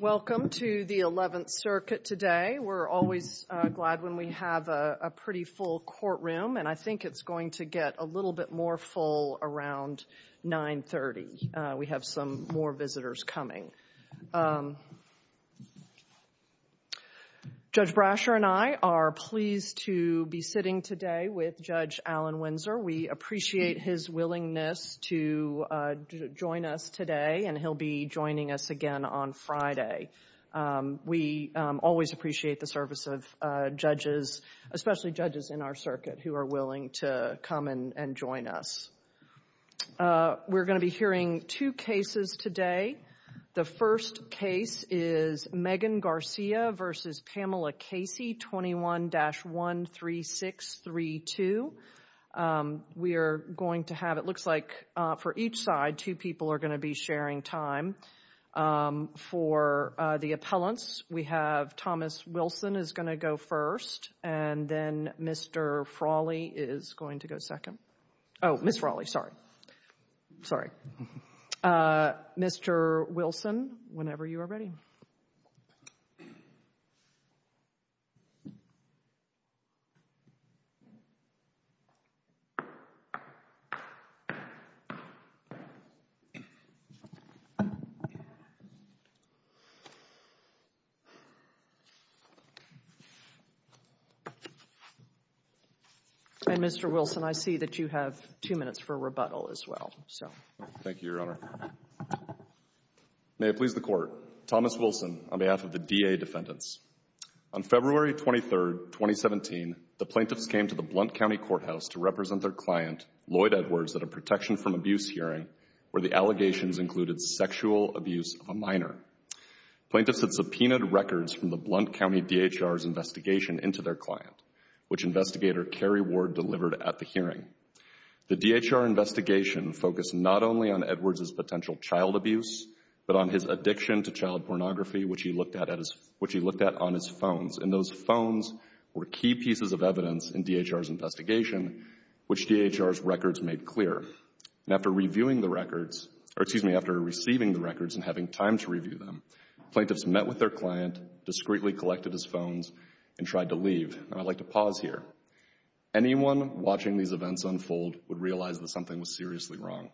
Welcome to the 11th Circuit today. We're always glad when we have a pretty full courtroom and I think it's going to get a little bit more full around 930. We have some more visitors coming. Judge Brasher and I are pleased to be sitting today with Judge Alan Windsor. We appreciate his willingness to join us today and he'll be joining us again on Friday. We always appreciate the service of judges, especially judges in our circuit who are willing to come and join us. We're going to be hearing two cases today. The first case is Megan Garcia v. Pamela Casey 21-13632. We are going to have, it looks like for each side, two people are going to be sharing time. For the appellants, we have Thomas Wilson is going to go first and then Mr. Frawley is going to go second. Oh, Ms. Frawley, sorry. Sorry. Mr. Wilson, whenever you are ready. And Mr. Wilson, I see that you have two minutes for rebuttal as well. Thank you, Your Honor. May it please the Court. Thomas Wilson on behalf of the DA defendants. On February 23, 2017, the plaintiffs came to the Blount County Courthouse to represent their client, Lloyd Edwards, at a protection from abuse hearing where the allegations included sexual abuse of a minor. Plaintiffs had subpoenaed records from the Blount County D.H.R.'s investigation into their client, which investigator Kerry Ward delivered at the hearing. The D.H.R. investigation focused not only on Edwards' potential child abuse, but on his addiction to child pornography, which he looked at on his phones. And those phones were key pieces of evidence in D.H.R.'s investigation, which D.H.R.'s records made clear. And after reviewing the records, or excuse me, after receiving the records and having time to review them, plaintiffs met with their client, discreetly collected his phones, and tried to leave. And I'd like to pause here. Anyone watching these events unfold would realize that something was seriously wrong.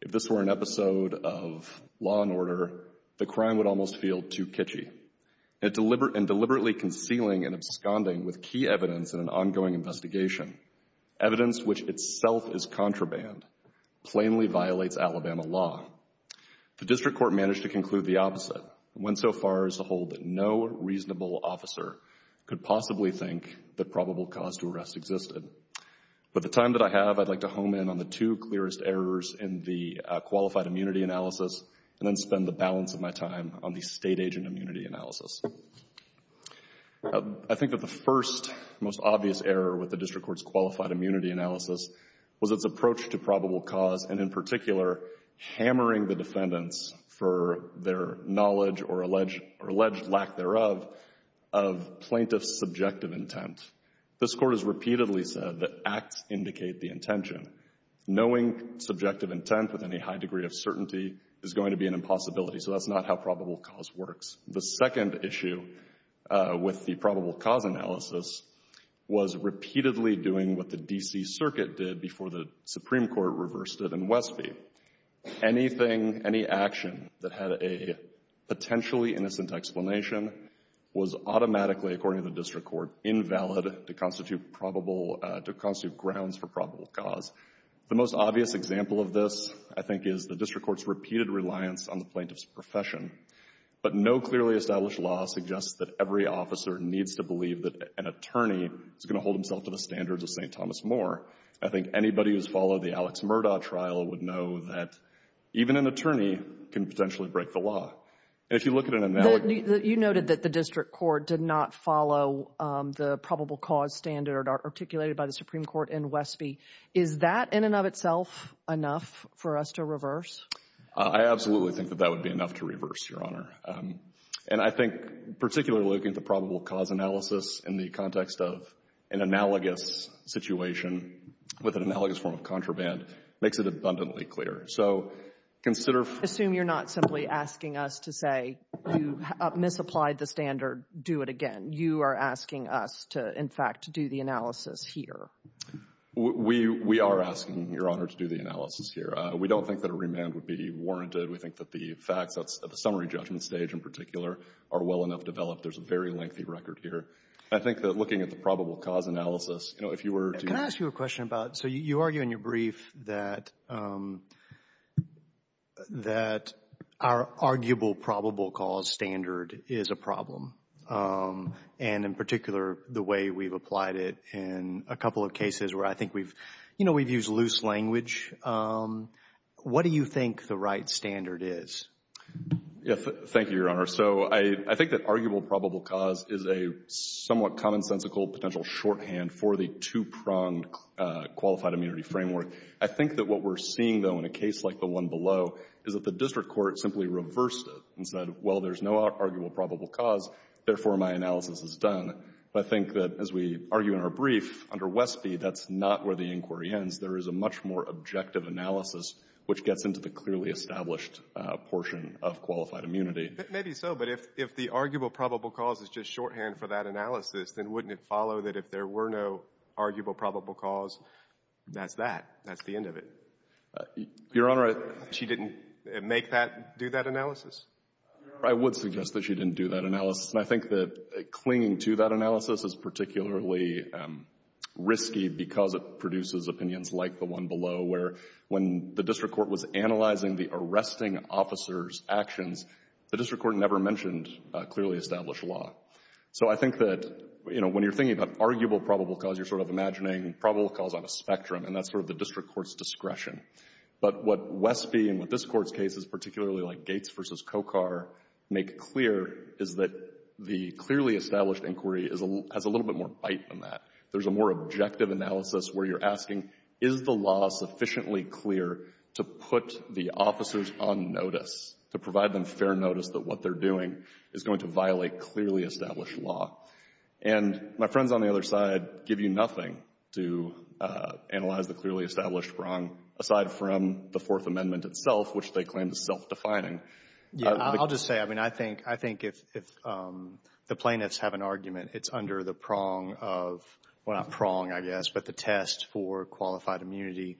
If this were an episode of Law & Order, the crime would almost feel too kitschy. And deliberately concealing and absconding with key evidence in an ongoing investigation, evidence which itself is contraband, plainly violates Alabama law. The district court managed to conclude the opposite, and went so far as to hold that no reasonable officer could possibly think that probable cause to arrest existed. With the time that I have, I'd like to home in on the two clearest errors in the qualified immunity analysis, and then spend the balance of my time on the state agent immunity analysis. I think that the first, most obvious error with the district court's qualified immunity analysis was its approach to probable cause, and in particular, hammering the defendants for their knowledge or alleged lack thereof of plaintiff's subjective intent. This Court has repeatedly said that acts indicate the intention. Knowing subjective intent with any high degree of certainty is going to be an impossibility, so that's not how probable cause works. The second issue with the probable cause analysis was repeatedly doing what the D.C. Circuit did before the Supreme Court reversed it in Westby. Anything, any action that had a potentially innocent explanation was automatically, according to the district court, invalid to constitute grounds for probable cause. The most obvious example of this, I think, is the district court's repeated reliance on the plaintiff's profession. But no clearly established law suggests that every officer needs to believe that an attorney is going to hold himself to the standards of St. Thomas More. I think anybody who's followed the Alex Murdaugh trial would know that even an attorney can potentially break the law. And if you look at an analogous You noted that the district court did not follow the probable cause standard articulated by the Supreme Court in Westby. Is that in and of itself enough for us to reverse? I absolutely think that that would be enough to reverse, Your Honor. And I think particularly looking at the probable cause analysis in the context of an analogous situation with an analogous form of contraband makes it abundantly clear. So consider Assume you're not simply asking us to say you misapplied the standard, do it again. You are asking us to, in fact, do the analysis here. We are asking, Your Honor, to do the analysis here. We don't think that a remand would be warranted. We think that the facts at the summary judgment stage in particular are well enough developed. There's a very lengthy record here. I think that looking at the probable cause analysis, you know, if you were to What do you think the right standard is? Yes. Thank you, Your Honor. So I think that arguable probable cause is a somewhat commonsensical potential shorthand for the two-pronged qualified immunity framework. I think that what we're seeing, though, in a case like the one below is that the district court simply reversed it and said, well, there's no arguable probable cause, therefore, my analysis is done. I think that, as we argue in our brief, under Westby, that's not where the inquiry ends. There is a much more objective analysis which gets into the clearly established portion of qualified immunity. Maybe so, but if the arguable probable cause is just shorthand for that analysis, then wouldn't it follow that if there were no arguable probable cause, that's that? That's the end of it? Your Honor, I She didn't make that, do that analysis? Your Honor, I would suggest that she didn't do that analysis, and I think that clinging to that analysis is particularly risky because it produces opinions like the one below, where when the district court was analyzing the arresting officer's actions, the district court never mentioned clearly established law. So I think that, you know, when you're thinking about arguable probable cause, you're sort of imagining probable cause on a spectrum, and that's sort of the district court's discretion. But what Westby and what this Court's case is particularly like Gates v. Cocar make clear is that the clearly established inquiry has a little bit more bite than that. There's a more objective analysis where you're asking, is the law sufficiently clear to put the officers on notice, to provide them fair notice that what they're doing is going to violate clearly established law? And my friends on the other side give you nothing to analyze the clearly established prong aside from the Fourth Amendment itself, which they claim is self-defining. Yeah, I'll just say, I mean, I think if the plaintiffs have an argument, it's under the prong of, well, not prong, I guess, but the test for qualified immunity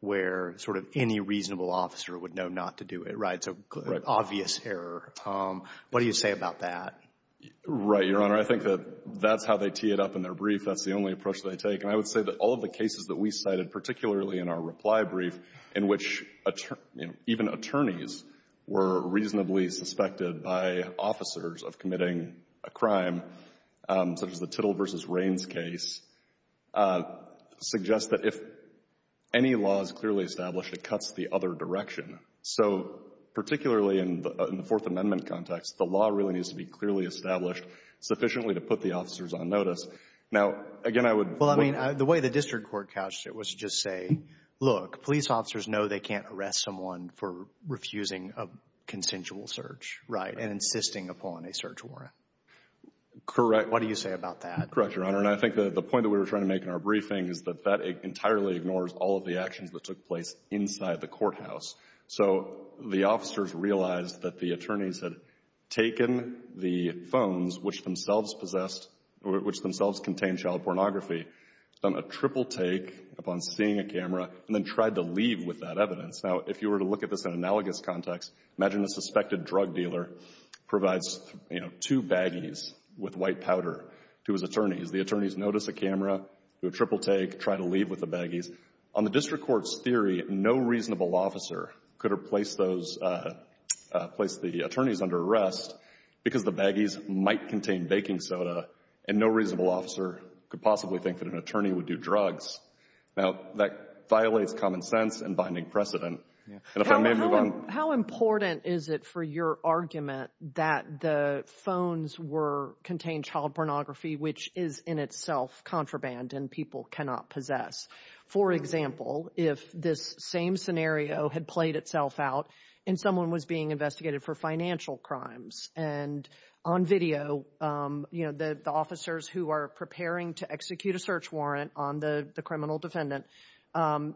where sort of any reasonable officer would know not to do it, right? So obvious error. What do you say about that? Right, Your Honor. I think that that's how they tee it up in their brief. That's the only approach they take. And I would say that all of the cases that we cited, particularly in our reply brief, in which even attorneys were reasonably suspected by officers of committing a crime, such as the Tittle v. Rains case, suggest that if any law is clearly established, it cuts the other direction. So particularly in the Fourth Amendment context, the law really needs to be clearly established sufficiently to put the officers on notice. Now, again, I would — Well, I mean, the way the district court couched it was to just say, look, police officers know they can't arrest someone for refusing a consensual search, right, and insisting upon a search warrant. Correct. What do you say about that? Correct, Your Honor. And I think the point that we were trying to make in our briefing is that that entirely ignores all of the actions that took place inside the courthouse. So the officers realized that the attorneys had taken the phones, which themselves possessed — which themselves contained child pornography, done a triple take upon seeing a camera, and then tried to leave with that evidence. Now, if you were to look at this in analogous context, imagine a suspected drug dealer provides, you know, two baggies with white powder to his attorneys. The attorneys notice a camera, do a triple take, try to leave with the baggies. On the district court's theory, no reasonable officer could have placed those — placed the attorneys under arrest because the baggies might contain baking soda, and no reasonable officer could possibly think that an attorney would do drugs. Now, that violates common sense and binding precedent. And if I may move on — How important is it for your argument that the phones were — contained child pornography, which is in itself contraband and people cannot possess? For example, if this same scenario had played itself out and someone was being investigated for financial crimes, and on video, you know, the officers who are preparing to execute a search warrant on the criminal defendant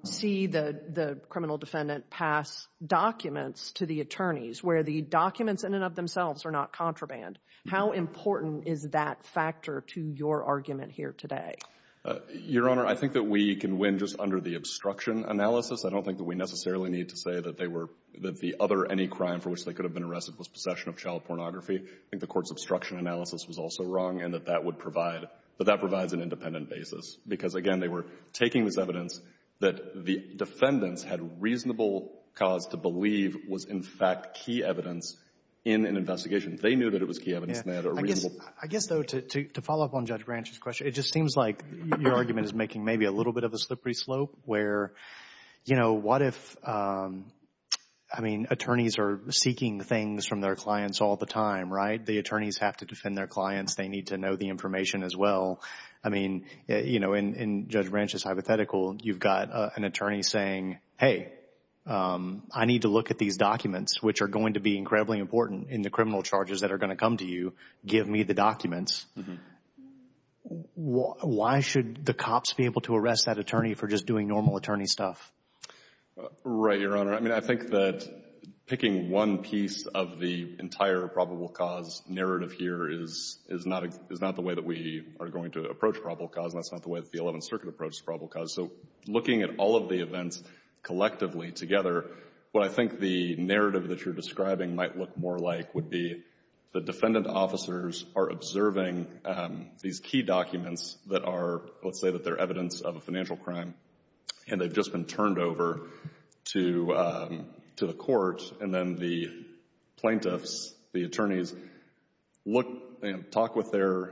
see the criminal defendant pass documents to the attorneys where the documents in and of themselves are not contraband, how important is that factor to your argument here today? Your Honor, I think that we can win just under the obstruction analysis. I don't think that we necessarily need to say that they were — that the other — any crime for which they could have been arrested was possession of child pornography. I think the Court's obstruction analysis was also wrong and that that would provide — that that provides an independent basis. Because, again, they were taking this evidence that the defendants had reasonable cause to believe was, in fact, key evidence in an investigation. They knew that it was key evidence and they had a reasonable — Your argument is making maybe a little bit of a slippery slope where, you know, what if — I mean, attorneys are seeking things from their clients all the time, right? The attorneys have to defend their clients. They need to know the information as well. I mean, you know, in Judge Branch's hypothetical, you've got an attorney saying, hey, I need to look at these documents, which are going to be incredibly important in the criminal charges that are going to come to you. Give me the documents. Why should the cops be able to arrest that attorney for just doing normal attorney stuff? Right, Your Honor. I mean, I think that picking one piece of the entire probable cause narrative here is not the way that we are going to approach probable cause. And that's not the way that the Eleventh Circuit approached probable cause. So looking at all of the events collectively together, what I think the narrative that you're describing might look more like would be the defendant officers are observing these key documents that are — let's say that they're evidence of a financial crime and they've just been turned over to the court. And then the plaintiffs, the attorneys, look and talk with their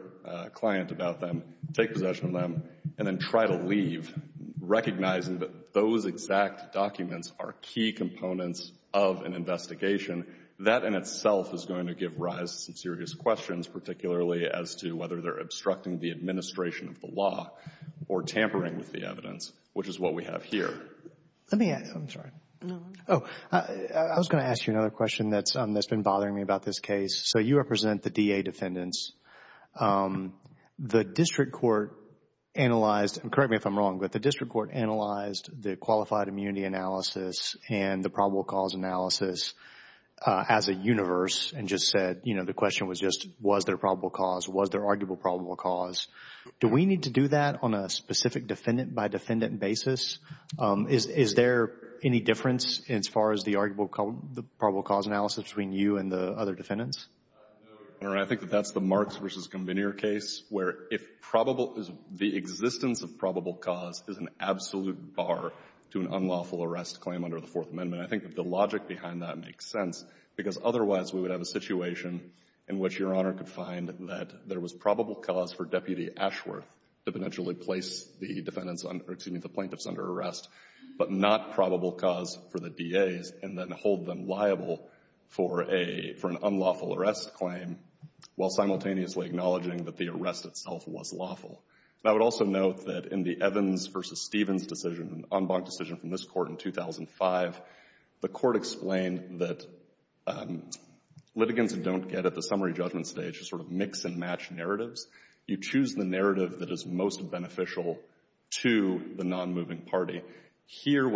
client about them, take possession of them, and then try to leave, recognizing that those exact documents are key components of an investigation. That in itself is going to give rise to some serious questions, particularly as to whether they're obstructing the administration of the law or tampering with the evidence, which is what we have here. Let me — I'm sorry. Oh, I was going to ask you another question that's been bothering me about this case. So you represent the DA defendants. The district court analyzed — and correct me if I'm wrong, but the district court analyzed the qualified immunity analysis and the probable cause analysis as a universe and just said, you know, the question was just, was there probable cause? Was there arguable probable cause? Do we need to do that on a specific defendant-by-defendant basis? Is there any difference as far as the arguable probable cause analysis between you and the other defendants? No, Your Honor. I think that that's the Marks v. Gombinier case, where if probable — the existence of probable cause is an absolute bar to an unlawful arrest claim under the Fourth Amendment. I think that the logic behind that makes sense, because otherwise we would have a situation in which Your Honor could find that there was probable cause for Deputy Ashworth to potentially place the defendants — or, excuse me, the plaintiffs under arrest, but not probable cause for the DAs and then hold them liable for a — for an unlawful arrest claim while simultaneously acknowledging that the arrest itself was lawful. And I would also note that in the Evans v. Stevens decision, an en banc decision from this court in 2005, the court explained that litigants don't get at the summary judgment stage to sort of mix and match narratives. You choose the narrative that is most beneficial to the nonmoving party. If you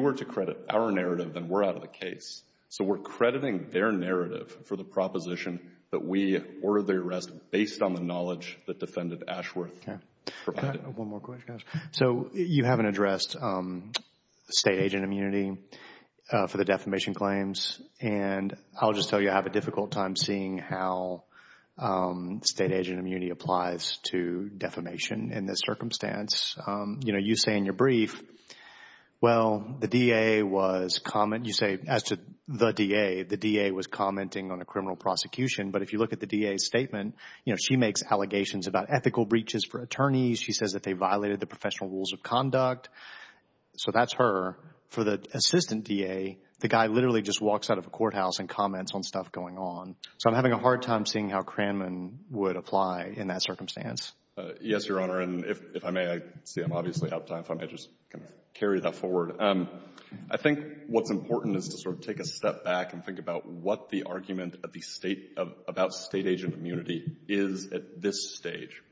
were to credit our narrative, then we're out of the case. So we're crediting their narrative for the proposition that we ordered the arrest based on the knowledge that Defendant Ashworth provided. One more question, guys. So you haven't addressed state agent immunity for the defamation claims. And I'll just tell you I have a difficult time seeing how state agent immunity applies to defamation in this circumstance. You know, you say in your brief, well, the DA was — you say, as to the DA, the DA was commenting on a criminal prosecution. But if you look at the DA's statement, you know, she makes allegations about ethical breaches for attorneys. She says that they violated the professional rules of conduct. So that's her. For the assistant DA, the guy literally just walks out of a courthouse and comments on stuff going on. So I'm having a hard time seeing how Cranman would apply in that circumstance. Yes, Your Honor. And if I may, I see I'm obviously out of time. If I may just kind of carry that forward. I think what's important is to sort of take a step back and think about what the argument at the state — about state agent immunity is at this stage.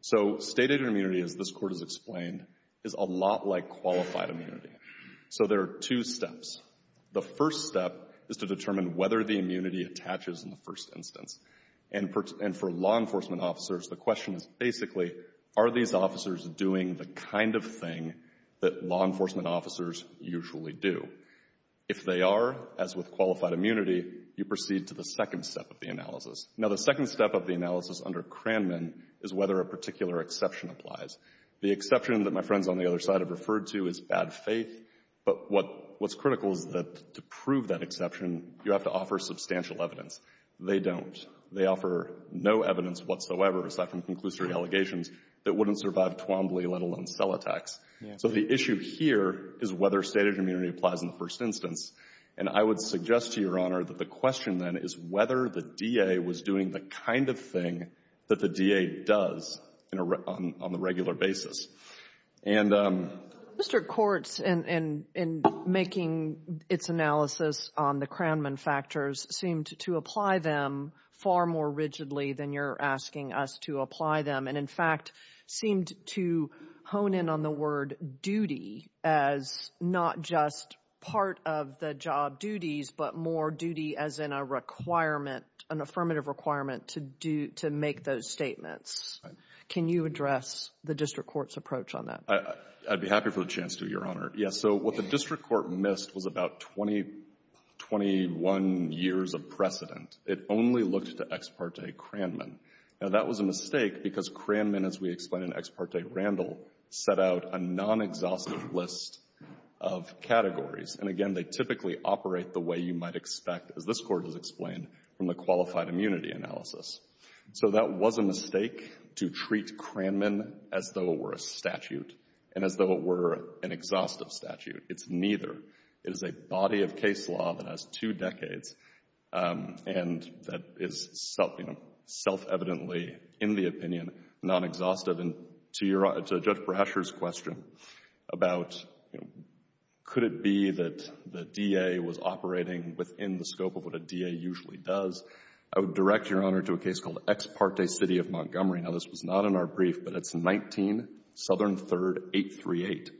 So state agent immunity, as this Court has explained, is a lot like qualified immunity. So there are two steps. The first step is to determine whether the immunity attaches in the first instance. And for law enforcement officers, the question is basically, are these officers doing the kind of thing that law enforcement officers usually do? If they are, as with qualified immunity, you proceed to the second step of the analysis. Now, the second step of the analysis under Cranman is whether a particular exception applies. The exception that my friends on the other side have referred to is bad faith. But what's critical is that to prove that exception, you have to offer substantial evidence. They don't. They offer no evidence whatsoever, aside from conclusive allegations, that wouldn't survive Twombly, let alone cell attacks. So the issue here is whether state agent immunity applies in the first instance. And I would suggest to Your Honor that the question then is whether the DA was doing the kind of thing that the DA does on a regular basis. Mr. Kortz, in making its analysis on the Cranman factors, seemed to apply them far more rigidly than you're asking us to apply them. And, in fact, seemed to hone in on the word duty as not just part of the job duties, but more duty as in a requirement, an affirmative requirement to make those statements. Right. Can you address the district court's approach on that? I'd be happy for the chance to, Your Honor. Yes. So what the district court missed was about 20, 21 years of precedent. It only looked to Ex parte Cranman. Now, that was a mistake because Cranman, as we explained in Ex parte Randall, set out a non-exhaustive list of categories. And, again, they typically operate the way you might expect, as this Court has explained, from the qualified immunity analysis. So that was a mistake to treat Cranman as though it were a statute and as though it were an exhaustive statute. It's neither. It is a body of case law that has two decades and that is self-evidently, in the opinion, non-exhaustive. And to Judge Brasher's question about could it be that the DA was operating within the scope of what a DA usually does, I would direct, Your Honor, to a case called Ex parte City of Montgomery. Now, this was not in our brief, but it's 19 Southern 3rd 838.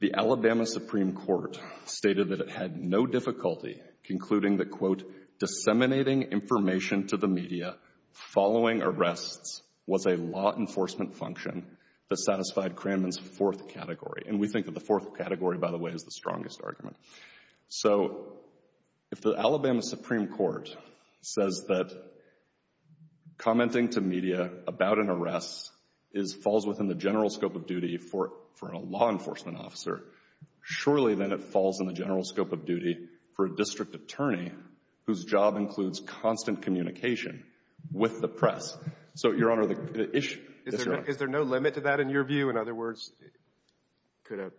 The Alabama Supreme Court stated that it had no difficulty concluding that, quote, disseminating information to the media following arrests was a law enforcement function that satisfied Cranman's fourth category. And we think that the fourth category, by the way, is the strongest argument. So if the Alabama Supreme Court says that commenting to media about an arrest falls within the general scope of duty for a law enforcement officer, surely then it falls in the general scope of duty for a district attorney whose job includes constant communication with the press. So, Your Honor, the issue — Is there no limit to that in your view? In other words, could a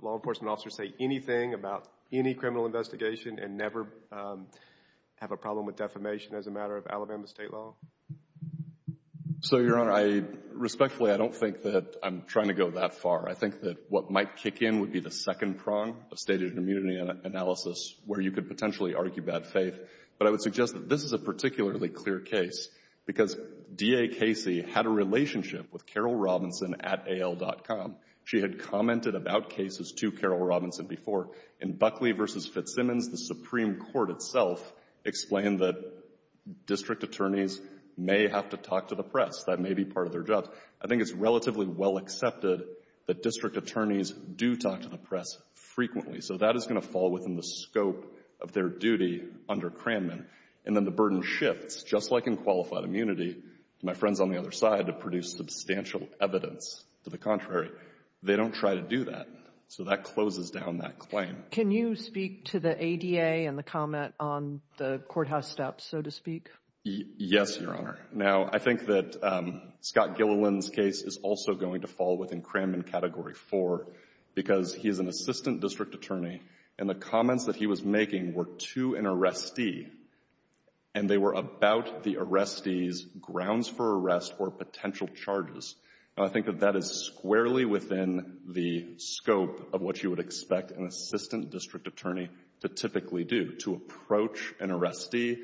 law enforcement officer say anything about any criminal investigation and never have a problem with defamation as a matter of Alabama State law? So, Your Honor, respectfully, I don't think that I'm trying to go that far. I think that what might kick in would be the second prong of stated immunity analysis where you could potentially argue bad faith. But I would suggest that this is a particularly clear case because D.A. Casey had a relationship with Carol Robinson at AL.com. She had commented about cases to Carol Robinson before. In Buckley v. Fitzsimmons, the Supreme Court itself explained that district attorneys may have to talk to the press. That may be part of their jobs. I think it's relatively well accepted that district attorneys do talk to the press frequently. So that is going to fall within the scope of their duty under Cranman. And then the burden shifts, just like in qualified immunity, to my friends on the other side to produce substantial evidence. To the contrary, they don't try to do that. So that closes down that claim. Can you speak to the ADA and the comment on the courthouse steps, so to speak? Yes, Your Honor. Now, I think that Scott Gilliland's case is also going to fall within Cranman Category 4 because he is an assistant district attorney, and the comments that he was making were to an arrestee, and they were about the arrestee's grounds for arrest or potential charges. I think that that is squarely within the scope of what you would expect an assistant district attorney to typically do, to approach an arrestee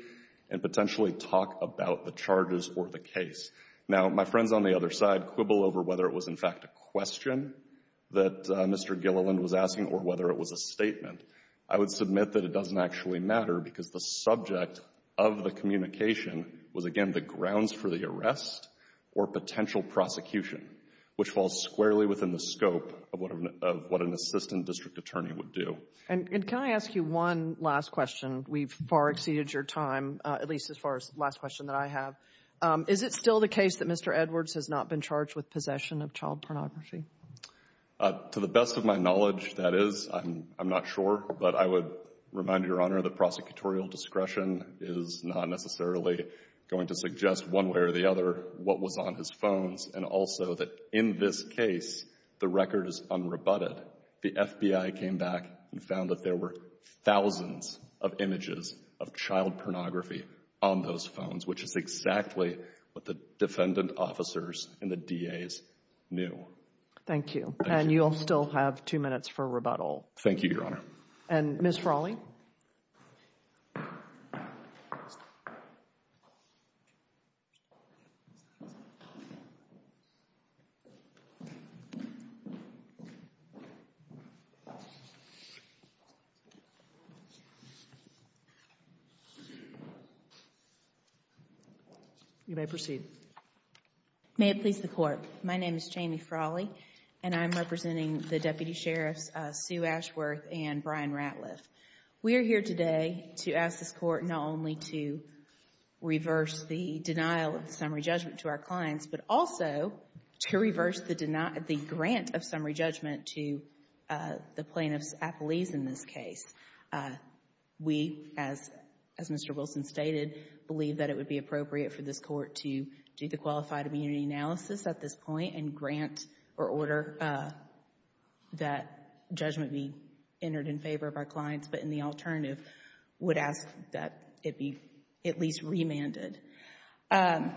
and potentially talk about the charges or the case. Now, my friends on the other side quibble over whether it was, in fact, a question that Mr. Gilliland was asking or whether it was a statement. I would submit that it doesn't actually matter because the subject of the communication was, again, the grounds for the arrest or potential prosecution, which falls squarely within the scope of what an assistant district attorney would do. And can I ask you one last question? We've far exceeded your time, at least as far as the last question that I have. Is it still the case that Mr. Edwards has not been charged with possession of child pornography? To the best of my knowledge, that is. I'm not sure, but I would remind Your Honor that prosecutorial discretion is not necessarily going to suggest one way or the other what was on his phones, and also that in this case the record is unrebutted. The FBI came back and found that there were thousands of images of child pornography on those phones, which is exactly what the defendant officers and the DAs knew. Thank you, and you'll still have two minutes for rebuttal. Thank you, Your Honor. And Ms. Frawley? You may proceed. May it please the Court. My name is Jamie Frawley, and I'm representing the Deputy Sheriffs Sue Ashworth and Brian Ratliff. We are here today to ask this Court not only to reverse the denial of summary judgment to our clients, but also to reverse the grant of summary judgment to the plaintiffs' apologies in this case. We, as Mr. Wilson stated, believe that it would be appropriate for this Court to do the qualified immunity analysis at this point and grant or order that judgment be entered in favor of our clients, but in the alternative would ask that it be at least remanded. Can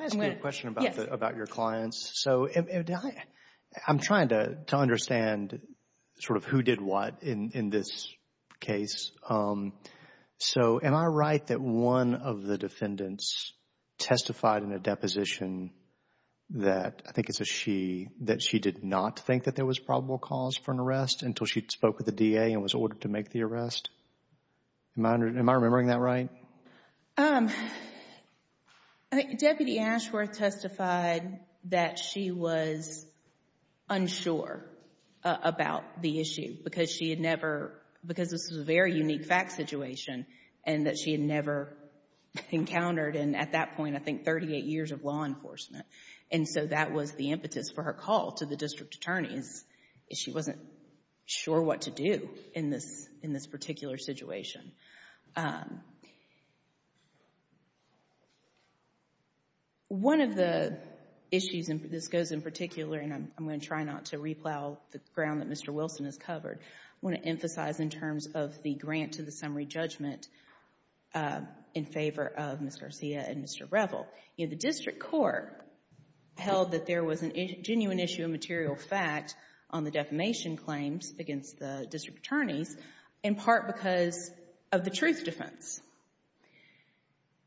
I ask you a question about your clients? Yes. So, I'm trying to understand sort of who did what in this case. So, am I right that one of the defendants testified in a deposition that, I think it's a she, that she did not think that there was probable cause for an arrest until she spoke with the DA and was ordered to make the arrest? Am I remembering that right? I think Deputy Ashworth testified that she was unsure about the issue because she had never, because this was a very unique fact situation and that she had never encountered in, at that point, I think, 38 years of law enforcement. And so that was the impetus for her call to the district attorneys if she wasn't sure what to do in this particular situation. One of the issues, and this goes in particular, and I'm going to try not to replow the ground that Mr. Wilson has covered, I want to emphasize in terms of the grant to the summary judgment in favor of Ms. Garcia and Mr. Revel. You know, the district court held that there was a genuine issue of material fact on the defamation claims against the district attorneys in part because of the truth defense.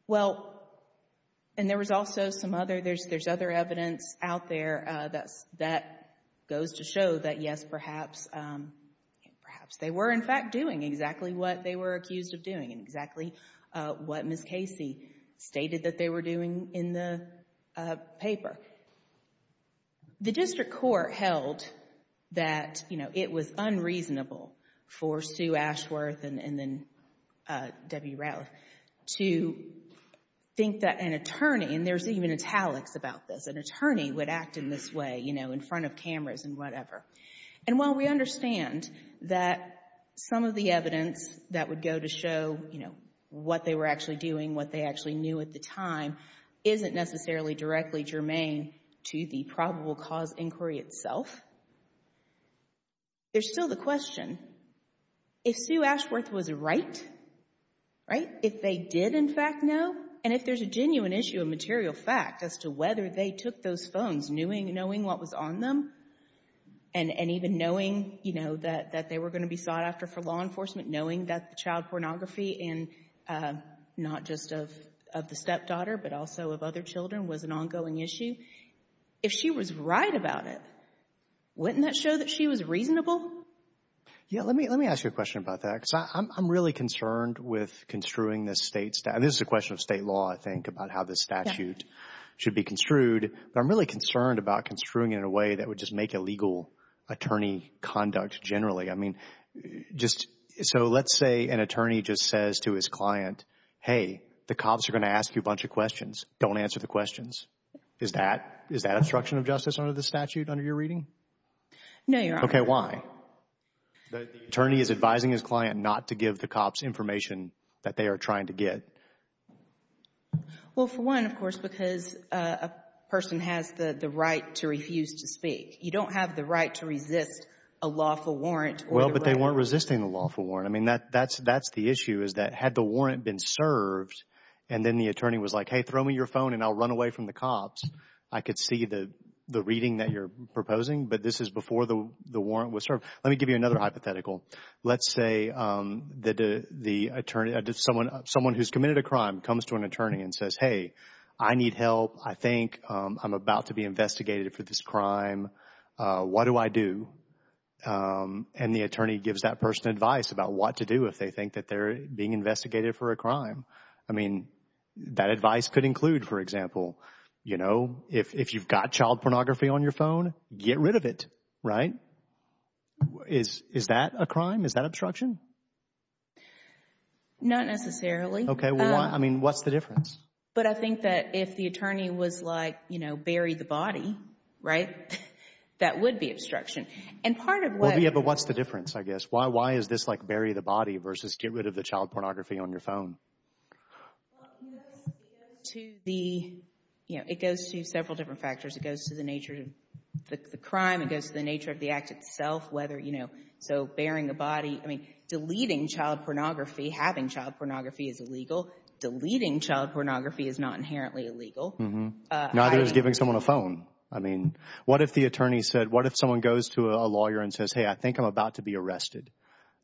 Well, and there was also some other, there's other evidence out there that goes to show that, yes, perhaps they were, in fact, doing exactly what they were accused of doing and exactly what Ms. Casey stated that they were doing in the paper. The district court held that, you know, it was unreasonable for Sue Ashworth and then Debbie Revel to think that an attorney, and there's even italics about this, an attorney would act in this way, you know, in front of cameras and whatever. And while we understand that some of the evidence that would go to show, you know, what they were actually doing, what they actually knew at the time, isn't necessarily directly germane to the probable cause inquiry itself, there's still the question, if Sue Ashworth was right, right, if they did, in fact, know, and if there's a genuine issue of material fact as to whether they took those phones knowing what was on them and even knowing, you know, that they were going to be sought after for law enforcement, knowing that the child pornography in, not just of the stepdaughter, but also of other children was an ongoing issue, if she was right about it, wouldn't that show that she was reasonable? Yeah, let me ask you a question about that because I'm really concerned with construing this state statute. This is a question of state law, I think, about how this statute should be construed, but I'm really concerned about construing it in a way that would just make illegal attorney conduct generally. I mean, just so let's say an attorney just says to his client, hey, the cops are going to ask you a bunch of questions. Don't answer the questions. Is that obstruction of justice under the statute, under your reading? No, Your Honor. Okay, why? The attorney is advising his client not to give the cops information that they are trying to get. Well, for one, of course, because a person has the right to refuse to speak. You don't have the right to resist a lawful warrant. Well, but they weren't resisting a lawful warrant. I mean, that's the issue is that had the warrant been served and then the attorney was like, hey, throw me your phone and I'll run away from the cops, I could see the reading that you're proposing, but this is before the warrant was served. Let me give you another hypothetical. Let's say that someone who's committed a crime comes to an attorney and says, hey, I need help. I think I'm about to be investigated for this crime. What do I do? And the attorney gives that person advice about what to do if they think that they're being investigated for a crime. I mean, that advice could include, for example, you know, if you've got child pornography on your phone, get rid of it, right? Is that a crime? Is that obstruction? Not necessarily. Okay. I mean, what's the difference? But I think that if the attorney was like, you know, bury the body, right, that would be obstruction. And part of what— Yeah, but what's the difference, I guess? Why is this like bury the body versus get rid of the child pornography on your phone? It goes to several different factors. It goes to the nature of the crime. It goes to the nature of the act itself, whether, you know, so burying the body. I mean, deleting child pornography, having child pornography is illegal. Deleting child pornography is not inherently illegal. Neither is giving someone a phone. I mean, what if the attorney said, what if someone goes to a lawyer and says, hey, I think I'm about to be arrested.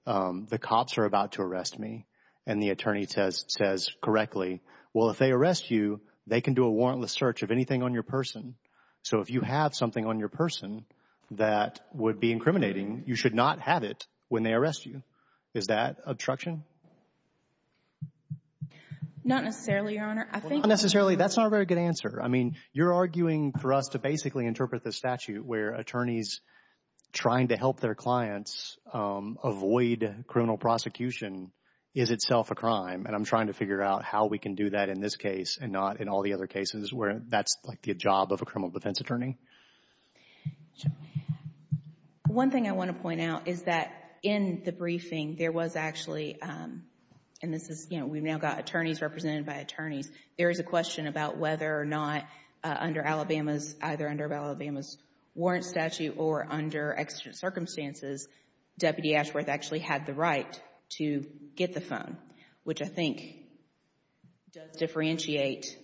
The cops are about to arrest me. And the attorney says correctly, well, if they arrest you, they can do a warrantless search of anything on your person. So if you have something on your person that would be incriminating, you should not have it when they arrest you. Is that obstruction? Not necessarily, Your Honor. Not necessarily. That's not a very good answer. I mean, you're arguing for us to basically interpret the statute where attorneys trying to help their clients avoid criminal prosecution is itself a crime. And I'm trying to figure out how we can do that in this case and not in all the other cases where that's like the job of a criminal defense attorney. One thing I want to point out is that in the briefing, there was actually, and this is, you know, we've now got attorneys represented by attorneys. There is a question about whether or not under Alabama's, either under Alabama's warrant statute or under exigent circumstances, Deputy Ashworth actually had the right to get the phone, which I think does differentiate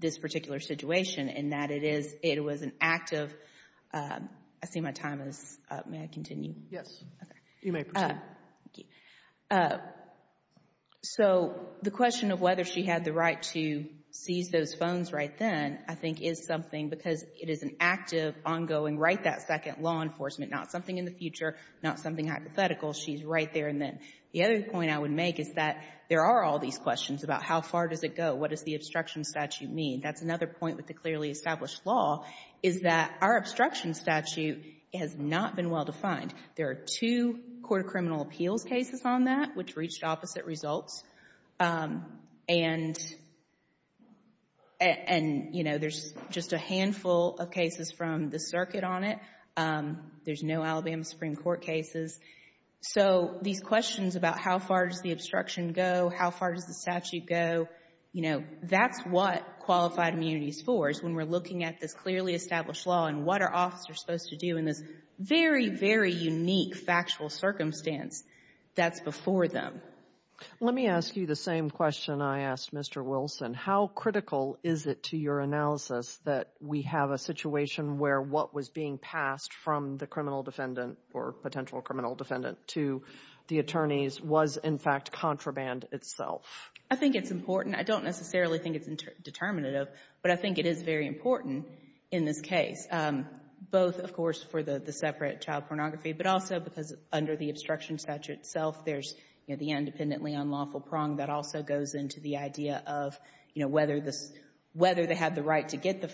this particular situation in that it is, it was an active, I see my time is up. May I continue? Yes. You may proceed. Thank you. So the question of whether she had the right to seize those phones right then, I think, is something because it is an active, ongoing, right that second, law enforcement, not something in the future, not something hypothetical. She's right there and then. The other point I would make is that there are all these questions about how far does it go? What does the obstruction statute mean? That's another point with the clearly established law is that our obstruction statute has not been well defined. There are two court of criminal appeals cases on that, which reached opposite results. And, you know, there's just a handful of cases from the circuit on it. There's no Alabama Supreme Court cases. So these questions about how far does the obstruction go, how far does the statute go, you know, that's what qualified immunity is for is when we're looking at this clearly established law and what our officers are supposed to do in this very, very unique factual circumstance that's before them. Let me ask you the same question I asked Mr. Wilson. How critical is it to your analysis that we have a situation where what was being passed from the criminal defendant or potential criminal defendant to the attorneys was, in fact, contraband itself? I think it's important. I don't necessarily think it's determinative. But I think it is very important in this case, both, of course, for the separate child pornography, but also because under the obstruction statute itself there's the independently unlawful prong that also goes into the idea of, you know, whether they had the right to get the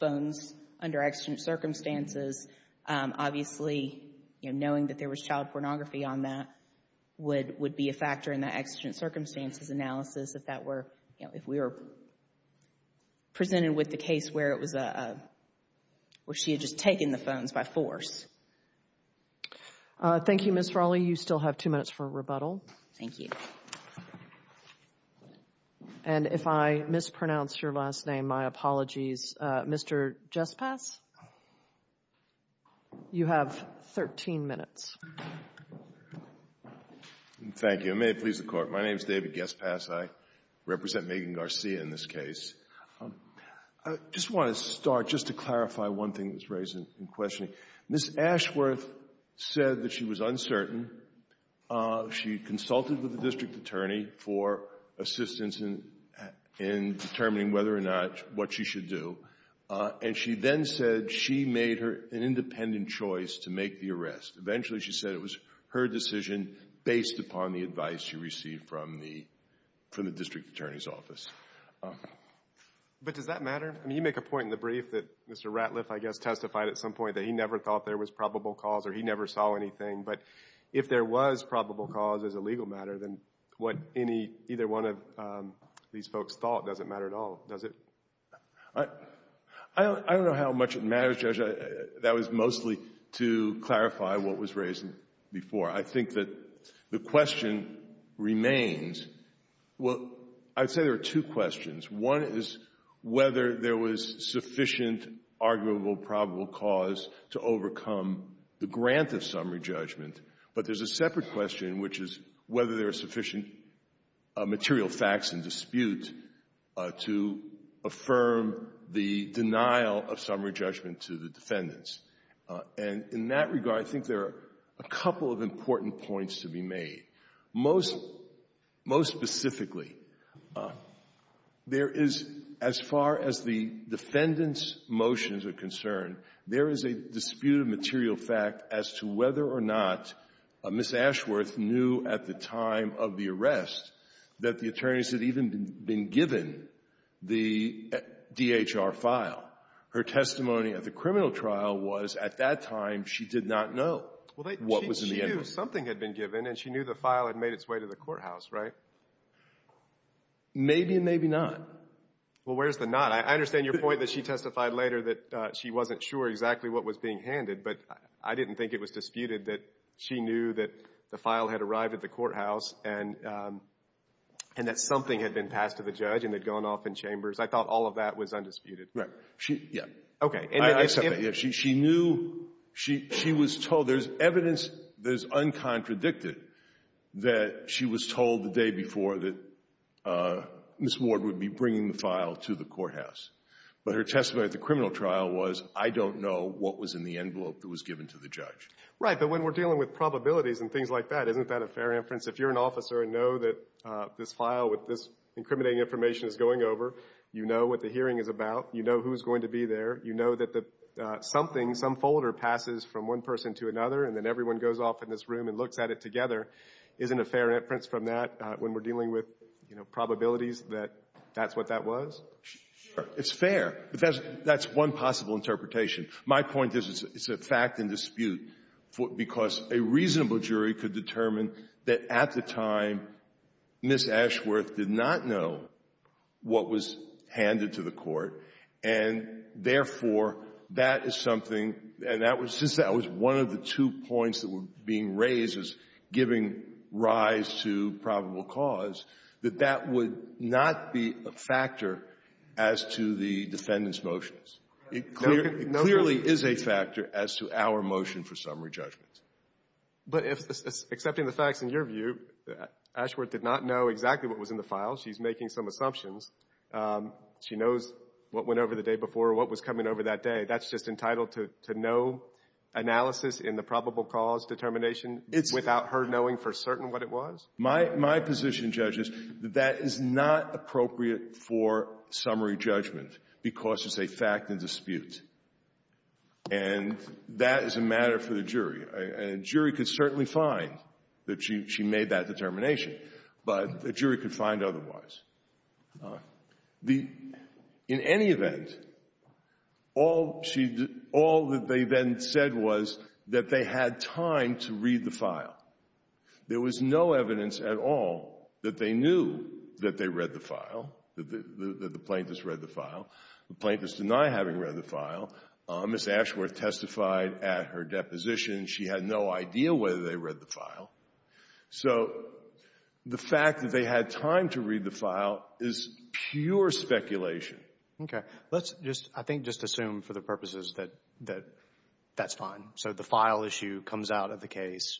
phones under exigent circumstances. Obviously, you know, knowing that there was child pornography on that would be a factor in the exigent circumstances analysis if that were, you know, if we were presented with the case where it was a, where she had just taken the phones by force. Thank you, Ms. Raleigh. You still have two minutes for rebuttal. Thank you. And if I mispronounced your last name, my apologies. Mr. Gespass, you have 13 minutes. Thank you. May it please the Court. My name is David Gespass. I represent Megan Garcia in this case. I just want to start just to clarify one thing that was raised in questioning. Ms. Ashworth said that she was uncertain. She consulted with the district attorney for assistance in determining whether or not what she should do, and she then said she made an independent choice to make the arrest. Eventually, she said it was her decision based upon the advice she received from the district attorney's office. But does that matter? I mean, you make a point in the brief that Mr. Ratliff, I guess, testified at some point that he never thought there was probable cause or he never saw anything. But if there was probable cause as a legal matter, then what either one of these folks thought doesn't matter at all, does it? I don't know how much it matters, Judge. That was mostly to clarify what was raised before. I think that the question remains. Well, I'd say there are two questions. One is whether there was sufficient arguable probable cause to overcome the grant of summary judgment. But there's a separate question, which is whether there are sufficient material facts in dispute to affirm the denial of summary judgment to the defendants. And in that regard, I think there are a couple of important points to be made. Most specifically, there is, as far as the defendant's motions are concerned, there is a disputed material fact as to whether or not Ms. Ashworth knew at the time of the arrest that the attorneys had even been given the DHR file. Her testimony at the criminal trial was, at that time, she did not know what was in the envelope. And she knew the file had made its way to the courthouse, right? Maybe and maybe not. Well, where's the not? I understand your point that she testified later that she wasn't sure exactly what was being handed, but I didn't think it was disputed that she knew that the file had arrived at the courthouse and that something had been passed to the judge and had gone off in chambers. I thought all of that was undisputed. Right. Yeah. Okay. I accept that. She knew. She was told. There's evidence that is uncontradicted that she was told the day before that Ms. Ward would be bringing the file to the courthouse. But her testimony at the criminal trial was, I don't know what was in the envelope that was given to the judge. Right. But when we're dealing with probabilities and things like that, isn't that a fair inference? If you're an officer and know that this file with this incriminating information is going over, you know what the hearing is about. You know who's going to be there. You know that something, some folder passes from one person to another and then everyone goes off in this room and looks at it together. Isn't a fair inference from that when we're dealing with probabilities that that's what that was? Sure. It's fair. That's one possible interpretation. My point is it's a fact and dispute because a reasonable jury could determine that at the time, Ms. Ashworth did not know what was handed to the court and, therefore, that is something, and since that was one of the two points that were being raised as giving rise to probable cause, that that would not be a factor as to the defendant's motions. It clearly is a factor as to our motion for summary judgment. But accepting the facts in your view, Ashworth did not know exactly what was in the file. She's making some assumptions. She knows what went over the day before or what was coming over that day. That's just entitled to no analysis in the probable cause determination without her knowing for certain what it was? My position, judges, that that is not appropriate for summary judgment because it's a fact and dispute. And that is a matter for the jury. And a jury could certainly find that she made that determination, but a jury could find otherwise. In any event, all that they then said was that they had time to read the file. There was no evidence at all that they knew that they read the file, that the plaintiffs read the file. The plaintiffs deny having read the file. Ms. Ashworth testified at her deposition she had no idea whether they read the file. So the fact that they had time to read the file is pure speculation. Okay. Let's just, I think, just assume for the purposes that that's fine. So the file issue comes out of the case.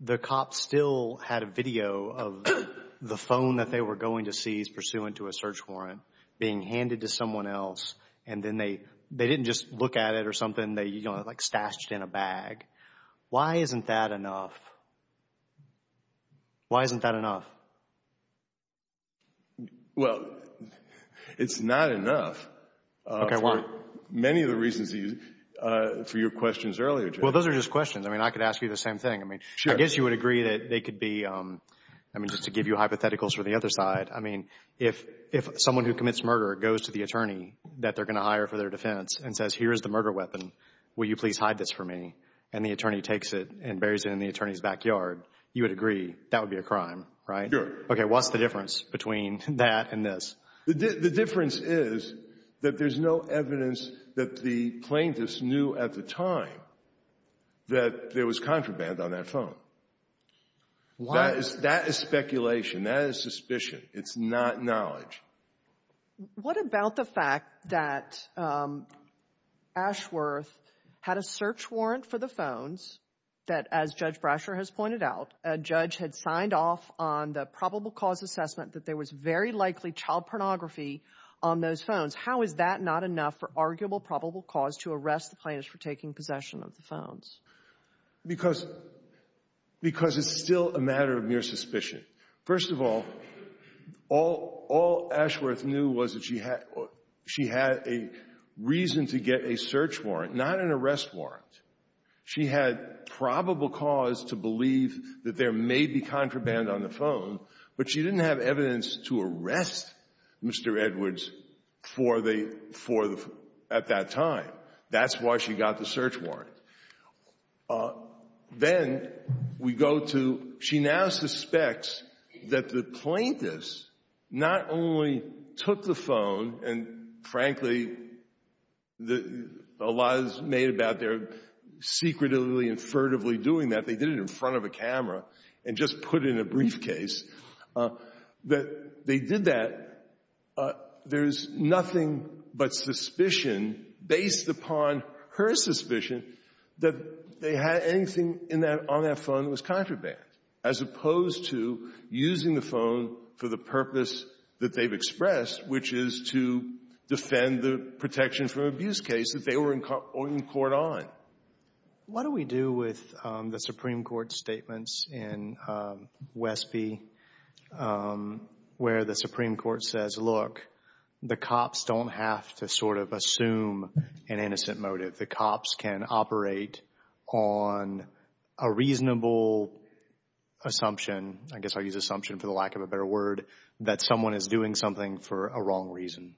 The cops still had a video of the phone that they were going to seize pursuant to a search warrant being handed to someone else. And then they didn't just look at it or something. They, you know, like stashed it in a bag. Why isn't that enough? Why isn't that enough? Well, it's not enough. Okay, why? Many of the reasons for your questions earlier, Judge. Well, those are just questions. I mean, I could ask you the same thing. I mean, I guess you would agree that they could be, I mean, just to give you hypotheticals for the other side, I mean, if someone who commits murder goes to the attorney that they're going to hire for their defense and says, here's the murder weapon, will you please hide this for me? And the attorney takes it and buries it in the attorney's backyard, you would agree that would be a crime, right? Sure. Okay. What's the difference between that and this? The difference is that there's no evidence that the plaintiffs knew at the time that there was contraband on that phone. Why? That is speculation. That is suspicion. It's not knowledge. What about the fact that Ashworth had a search warrant for the phones that, as Judge Brasher has pointed out, a judge had signed off on the probable cause assessment that there was very likely child pornography on those phones. How is that not enough for arguable probable cause to arrest the plaintiffs for taking possession of the phones? Because it's still a matter of mere suspicion. First of all, all Ashworth knew was that she had a reason to get a search warrant, not an arrest warrant. She had probable cause to believe that there may be contraband on the phone, but she didn't have evidence to arrest Mr. Edwards at that time. That's why she got the search warrant. Then we go to she now suspects that the plaintiffs not only took the phone and, frankly, a lot is made about their secretively, infertively doing that. They did it in front of a camera and just put it in a briefcase. They did that. There's nothing but suspicion, based upon her suspicion, that they had anything on that phone that was contraband, as opposed to using the phone for the purpose that they've expressed, which is to defend the protection from abuse case that they were in court on. What do we do with the Supreme Court's statements in Westby where the Supreme Court says, look, the cops don't have to sort of assume an innocent motive. The cops can operate on a reasonable assumption. I guess I'll use assumption for the lack of a better word, that someone is doing something for a wrong reason.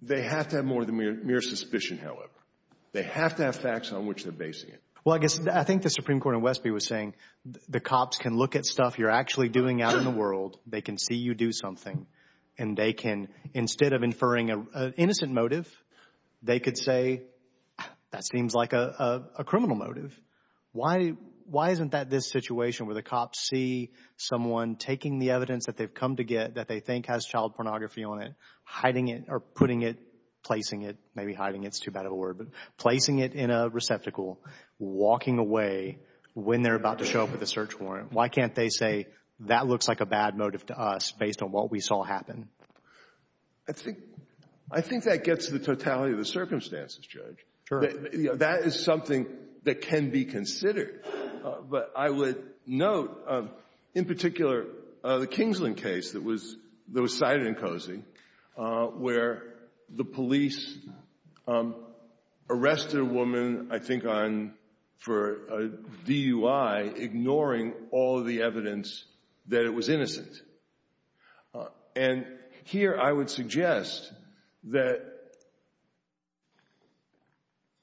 They have to have more than mere suspicion, however. They have to have facts on which they're basing it. Well, I guess I think the Supreme Court in Westby was saying the cops can look at stuff you're actually doing out in the world. They can see you do something, and they can, instead of inferring an innocent motive, they could say that seems like a criminal motive. Why isn't that this situation where the cops see someone taking the evidence that they've come to get that they think has child pornography on it, hiding it or putting it, placing it, maybe hiding it's too bad of a word, but placing it in a receptacle, walking away when they're about to show up at the search warrant? Why can't they say that looks like a bad motive to us based on what we saw happen? I think that gets to the totality of the circumstances, Judge. Sure. That is something that can be considered. But I would note, in particular, the Kingsland case that was cited in Cozy, where the police arrested a woman, I think, for a DUI, ignoring all of the evidence that it was innocent. And here I would suggest that,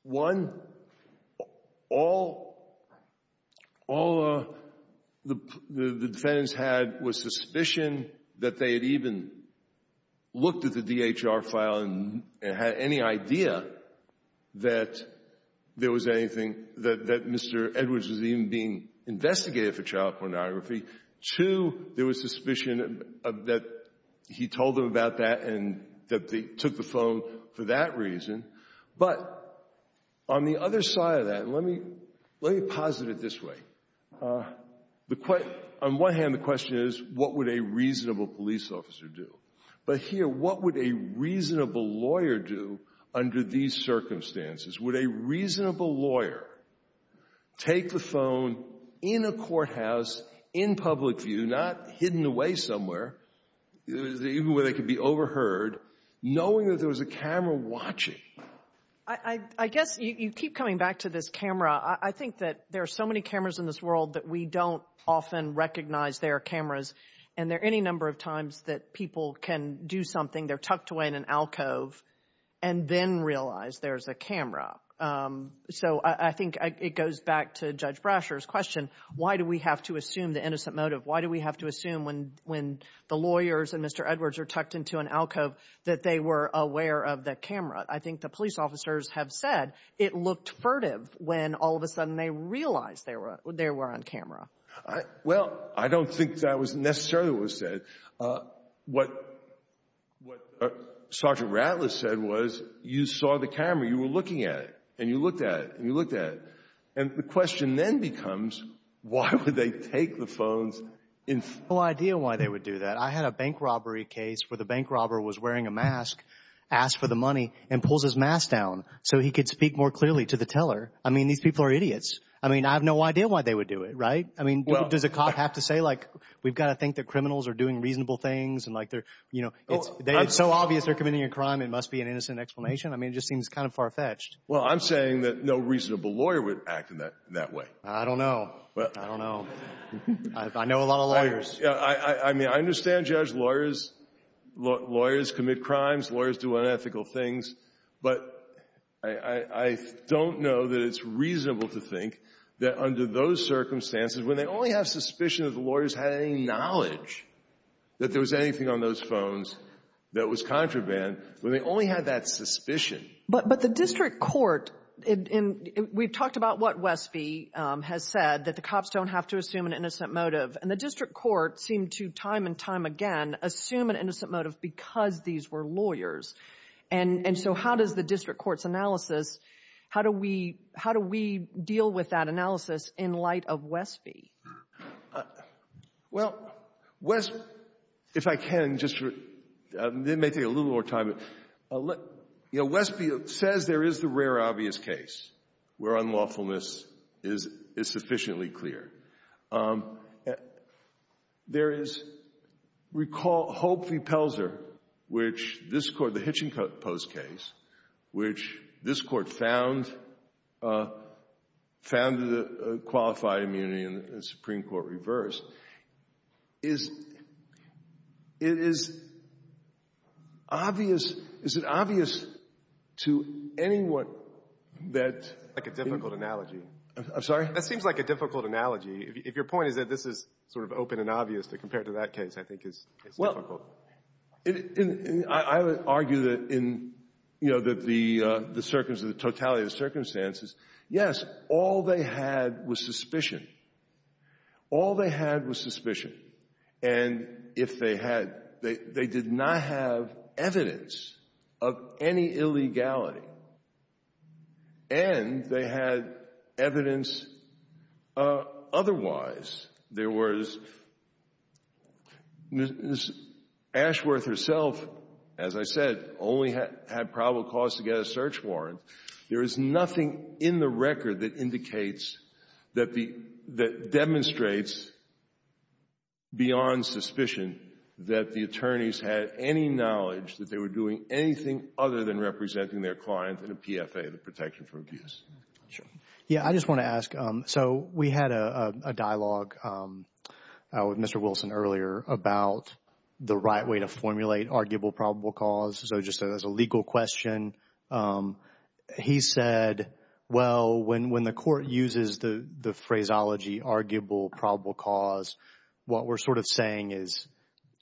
one, all the defendants had was suspicion that they had even looked at the DHR file and had any idea that there was anything, that Mr. Edwards was even being investigated for child pornography. Two, there was suspicion that he told them about that and that they took the phone for that reason. But on the other side of that, let me posit it this way. On one hand, the question is, what would a reasonable police officer do? But here, what would a reasonable lawyer do under these circumstances? Would a reasonable lawyer take the phone in a courthouse, in public view, not hidden away somewhere, even where they could be overheard, knowing that there was a camera watching? I guess you keep coming back to this camera. I think that there are so many cameras in this world that we don't often recognize they are cameras. And there are any number of times that people can do something, they're tucked away in an alcove, and then realize there's a camera. So I think it goes back to Judge Brasher's question, why do we have to assume the innocent motive? Why do we have to assume when the lawyers and Mr. Edwards are tucked into an alcove that they were aware of the camera? I think the police officers have said it looked furtive when all of a sudden they realized they were on camera. Well, I don't think that was necessarily what was said. What Sergeant Ratliff said was, you saw the camera, you were looking at it, and you looked at it, and you looked at it. And the question then becomes, why would they take the phones? I have no idea why they would do that. I had a bank robbery case where the bank robber was wearing a mask, asked for the money, and pulls his mask down so he could speak more clearly to the teller. I mean, these people are idiots. I mean, I have no idea why they would do it, right? I mean, does a cop have to say, like, we've got to think that criminals are doing reasonable things? It's so obvious they're committing a crime, it must be an innocent explanation? I mean, it just seems kind of far-fetched. Well, I'm saying that no reasonable lawyer would act in that way. I don't know. I don't know. I know a lot of lawyers. I mean, I understand, Judge, lawyers commit crimes, lawyers do unethical things. But I don't know that it's reasonable to think that under those circumstances, when they only have suspicion that the lawyers had any knowledge that there was anything on those phones that was contraband, when they only had that suspicion. But the district court, and we've talked about what Westby has said, that the cops don't have to assume an innocent motive. And the district court seemed to, time and time again, assume an innocent motive because these were lawyers. And so how does the district court's analysis, how do we deal with that analysis in light of Westby? Well, Westby, if I can just, this may take a little more time. You know, Westby says there is the rare obvious case where unlawfulness is sufficiently clear. There is, recall Hope v. Pelzer, which this court, the Hitchinpost case, which this court found, found the qualified immunity in the Supreme Court reversed. Is it obvious to anyone that— That's like a difficult analogy. I'm sorry? That seems like a difficult analogy. If your point is that this is sort of open and obvious compared to that case, I think it's difficult. Well, I would argue that in, you know, that the totality of the circumstances, yes, all they had was suspicion. All they had was suspicion. And if they had, they did not have evidence of any illegality. And they had evidence otherwise. There was Ms. Ashworth herself, as I said, only had probable cause to get a search warrant. There is nothing in the record that indicates, that demonstrates beyond suspicion, that the attorneys had any knowledge that they were doing anything other than representing their client in a PFA, the Protection from Abuse. Sure. Yeah, I just want to ask, so we had a dialogue with Mr. Wilson earlier about the right way to formulate arguable probable cause. So just as a legal question, he said, well, when the court uses the phraseology arguable probable cause, what we're sort of saying is,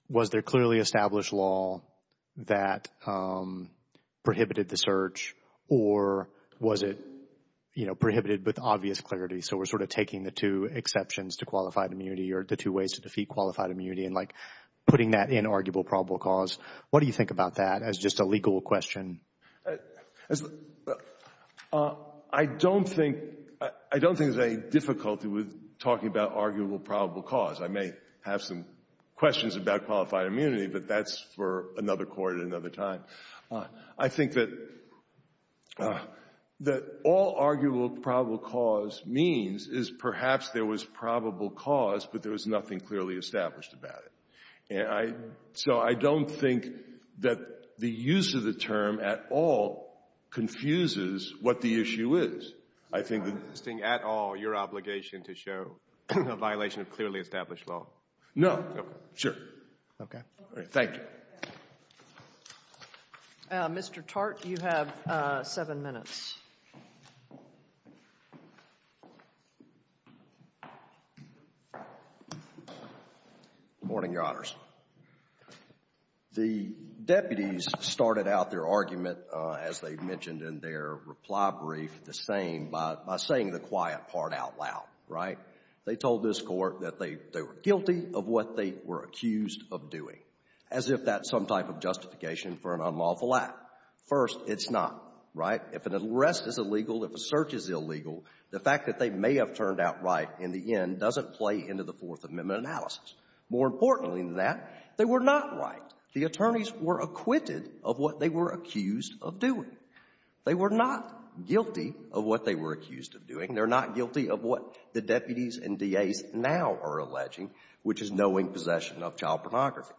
was there clearly established law that prohibited the search? Or was it, you know, prohibited with obvious clarity? So we're sort of taking the two exceptions to qualified immunity or the two ways to defeat qualified immunity and like putting that in arguable probable cause. What do you think about that as just a legal question? I don't think there's any difficulty with talking about arguable probable cause. I may have some questions about qualified immunity, but that's for another court at another time. I think that all arguable probable cause means is perhaps there was probable cause, but there was nothing clearly established about it. So I don't think that the use of the term at all confuses what the issue is. I think it's not at all your obligation to show a violation of clearly established law. No. Sure. Okay. Thank you. Mr. Tartt, you have seven minutes. Good morning, Your Honors. The deputies started out their argument, as they mentioned in their reply brief, the same, by saying the quiet part out loud, right? They told this Court that they were guilty of what they were accused of doing, as if that's some type of justification for an unlawful act. First, it's not, right? If an arrest is illegal, if a search is illegal, the fact that they may have turned out right in the end doesn't play into the Fourth Amendment analysis. More importantly than that, they were not right. The attorneys were acquitted of what they were accused of doing. They were not guilty of what they were accused of doing. They're not guilty of what the deputies and DAs now are alleging, which is knowing possession of child pornography.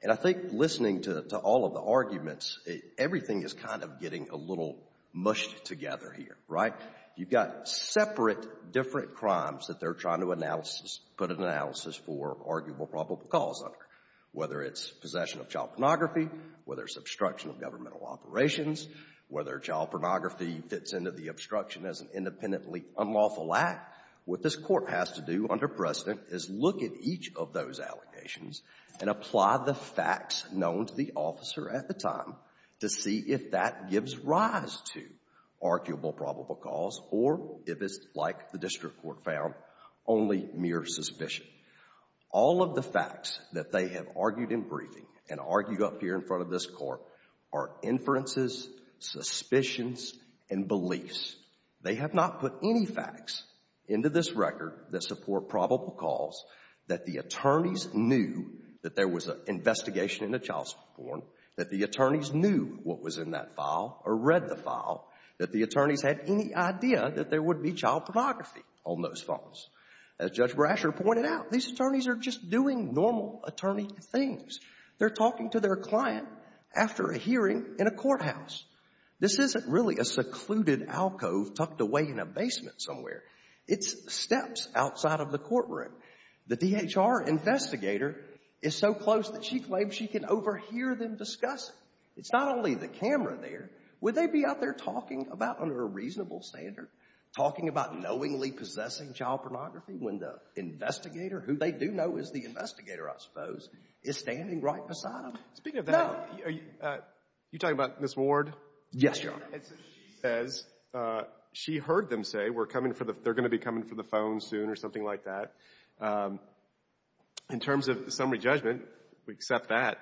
And I think listening to all of the arguments, everything is kind of getting a little mushed together here, right? You've got separate different crimes that they're trying to put an analysis for arguable probable cause under, whether it's possession of child pornography, whether it's obstruction of governmental operations, whether child pornography fits into the obstruction as an independently unlawful act. What this Court has to do under precedent is look at each of those allegations and apply the facts known to the officer at the time to see if that gives rise to arguable probable cause or, if it's like the District Court found, only mere suspicion. All of the facts that they have argued in briefing and argued up here in front of this Court are inferences, suspicions, and beliefs. They have not put any facts into this record that support probable cause that the attorneys knew that there was an investigation into child porn, that the attorneys knew what was in that file or read the file, that the attorneys had any idea that there would be child pornography on those phones. As Judge Brasher pointed out, these attorneys are just doing normal attorney things. They're talking to their client after a hearing in a courthouse. This isn't really a secluded alcove tucked away in a basement somewhere. It's steps outside of the courtroom. The DHR investigator is so close that she claims she can overhear them discussing. It's not only the camera there. Would they be out there talking about, under a reasonable standard, talking about knowingly possessing child pornography when the investigator, who they do know is the investigator, I suppose, is standing right beside them? No. Speaking of that, are you talking about Ms. Ward? Yes, Your Honor. She says she heard them say they're going to be coming for the phone soon or something like that. In terms of summary judgment, we accept that.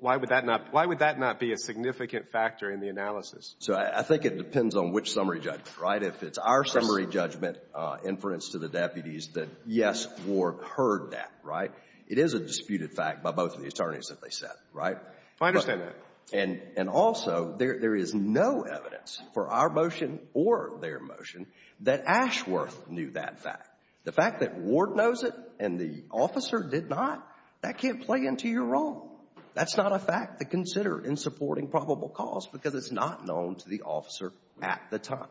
Why would that not be a significant factor in the analysis? So I think it depends on which summary judgment, right? If it's our summary judgment inference to the deputies that, yes, Ward heard that, right? It is a disputed fact by both of the attorneys that they said, right? I understand that. And also, there is no evidence for our motion or their motion that Ashworth knew that fact. The fact that Ward knows it and the officer did not, that can't play into your role. That's not a fact to consider in supporting probable cause because it's not known to the officer at the time.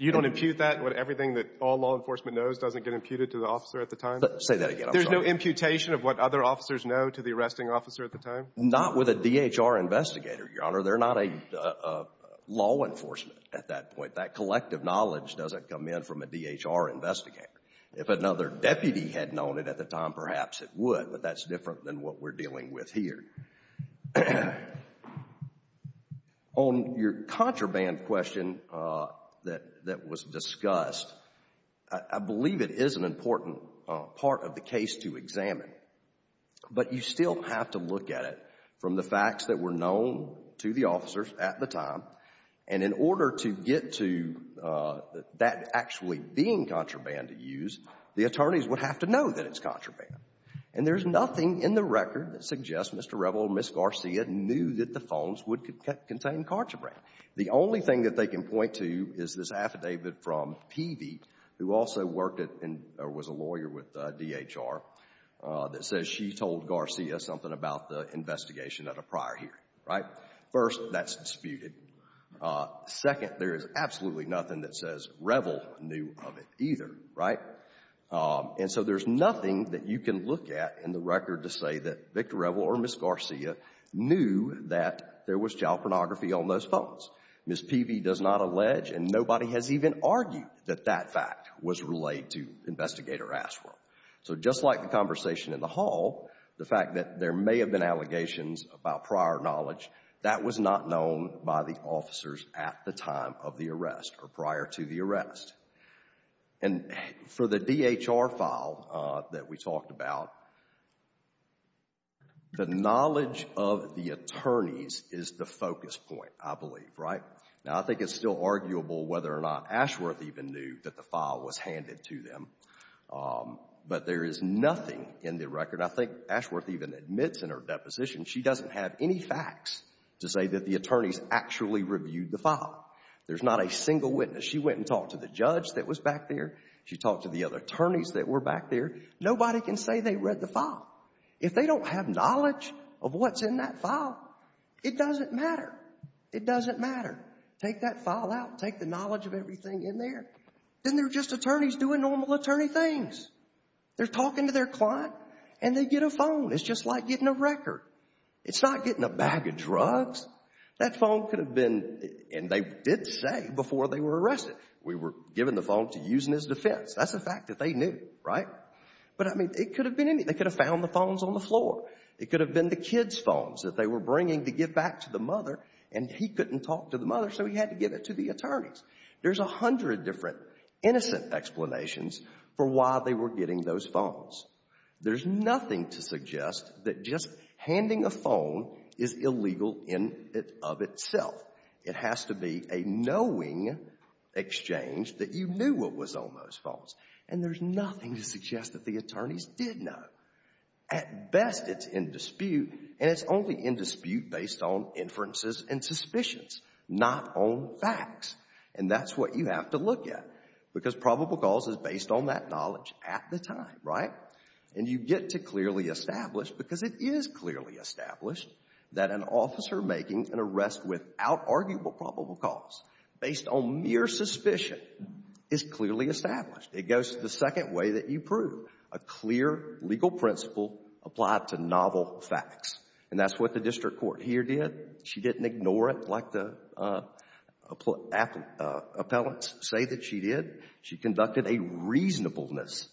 You don't impute that, what everything that all law enforcement knows doesn't get imputed to the officer at the time? Say that again. I'm sorry. There's no imputation of what other officers know to the arresting officer at the time? Not with a DHR investigator, Your Honor. They're not a law enforcement at that point. That collective knowledge doesn't come in from a DHR investigator. If another deputy had known it at the time, perhaps it would, but that's different than what we're dealing with here. On your contraband question that was discussed, I believe it is an important part of the case to examine. But you still have to look at it from the facts that were known to the officers at the time. And in order to get to that actually being contraband to use, the attorneys would have to know that it's contraband. And there's nothing in the record that suggests Mr. Revel and Ms. Garcia knew that the phones would contain contraband. The only thing that they can point to is this affidavit from Peavey, who also worked at and was a lawyer with DHR, that says she told Garcia something about the investigation at a prior hearing, right? First, that's disputed. Second, there is absolutely nothing that says Revel knew of it either, right? And so there's nothing that you can look at in the record to say that Victor Revel or Ms. Garcia knew that there was child pornography on those phones. Ms. Peavey does not allege, and nobody has even argued that that fact was relayed to the investigator who asked for it. So just like the conversation in the hall, the fact that there may have been child pornography, to our knowledge, that was not known by the officers at the time of the arrest or prior to the arrest. And for the DHR file that we talked about, the knowledge of the attorneys is the focus point, I believe, right? Now, I think it's still arguable whether or not Ashworth even knew that the file was handed to them. But there is nothing in the record, I think Ashworth even admits in her deposition she doesn't have any facts to say that the attorneys actually reviewed the file. There's not a single witness. She went and talked to the judge that was back there. She talked to the other attorneys that were back there. Nobody can say they read the file. If they don't have knowledge of what's in that file, it doesn't matter. It doesn't matter. Take that file out. Take the knowledge of everything in there. Then they're just attorneys doing normal attorney things. They're talking to their client, and they get a phone. It's just like getting a record. It's not getting a bag of drugs. That phone could have been, and they did say before they were arrested, we were given the phone to use in his defense. That's a fact that they knew, right? But, I mean, it could have been anything. They could have found the phones on the floor. It could have been the kid's phones that they were bringing to give back to the mother, and he couldn't talk to the mother, so he had to give it to the attorneys. There's a hundred different innocent explanations for why they were getting those phones. There's nothing to suggest that just handing a phone is illegal in and of itself. It has to be a knowing exchange that you knew what was on those phones, and there's nothing to suggest that the attorneys did know. At best, it's in dispute, and it's only in dispute based on inferences and suspicions, not on facts, and that's what you have to look at because probable cause is based on that knowledge at the time, right? And you get to clearly establish, because it is clearly established, that an officer making an arrest without arguable probable cause based on mere suspicion is clearly established. It goes to the second way that you prove, a clear legal principle applied to novel facts, and that's what the district court here did. She didn't ignore it like the appellants say that she did. She conducted a reasonableness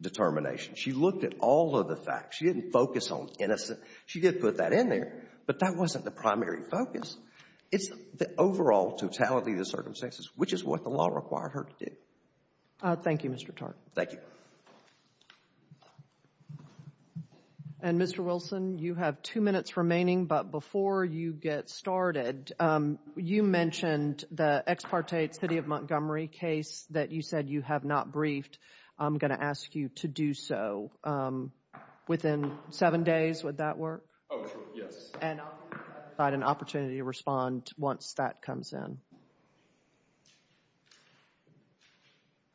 determination. She looked at all of the facts. She didn't focus on innocent. She did put that in there, but that wasn't the primary focus. It's the overall totality of the circumstances, which is what the law required her to do. Thank you, Mr. Tartt. Thank you. And, Mr. Wilson, you have two minutes remaining, but before you get started, you mentioned the ex parte City of Montgomery case that you said you have not briefed. I'm going to ask you to do so within seven days. Would that work? Oh, sure. Yes. And I'll provide an opportunity to respond once that comes in.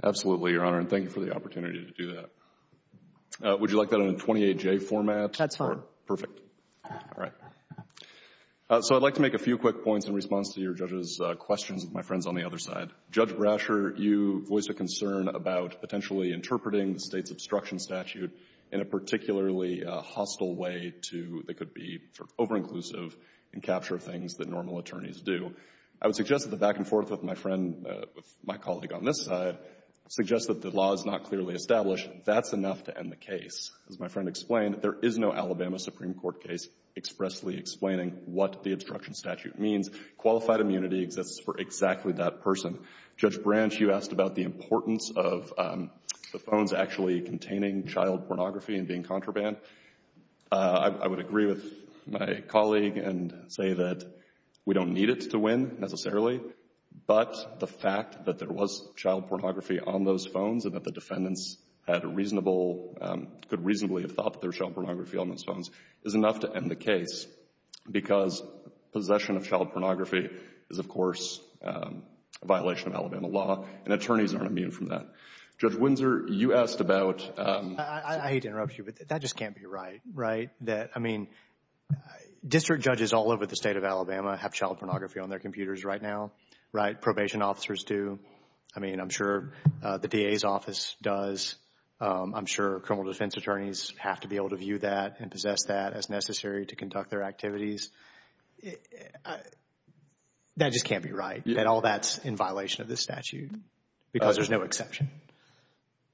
Absolutely, Your Honor, and thank you for the opportunity to do that. Would you like that in a 28-J format? That's fine. Perfect. All right. So, I'd like to make a few quick points in response to your judges' questions with my friends on the other side. Judge Brasher, you voiced a concern about potentially interpreting the State's obstruction statute in a particularly hostile way to — that could be over-inclusive and capture things that normal attorneys do. I would suggest that the back-and-forth with my friend, with my colleague on this side, suggests that the law is not clearly established. That's enough to end the case. As my friend explained, there is no Alabama Supreme Court case expressly explaining what the obstruction statute means. Qualified immunity exists for exactly that person. Judge Branch, you asked about the importance of the phones actually containing child pornography and being contraband. I would agree with my colleague and say that we don't need it to win, necessarily, but the fact that there was child pornography on those phones and that the defendants had a reasonable — could reasonably have thought that there was child pornography on those phones is enough to end the case because possession of child pornography is, of course, a violation of Alabama law, and attorneys aren't immune from that. Judge Windsor, you asked about — I hate to interrupt you, but that just can't be right, right? I mean, district judges all over the state of Alabama have child pornography on their computers right now, right? Probation officers do. I mean, I'm sure the DA's office does. I'm sure criminal defense attorneys have to be able to view that and possess that as necessary to conduct their activities. That just can't be right, that all that's in violation of this statute because there's no exception.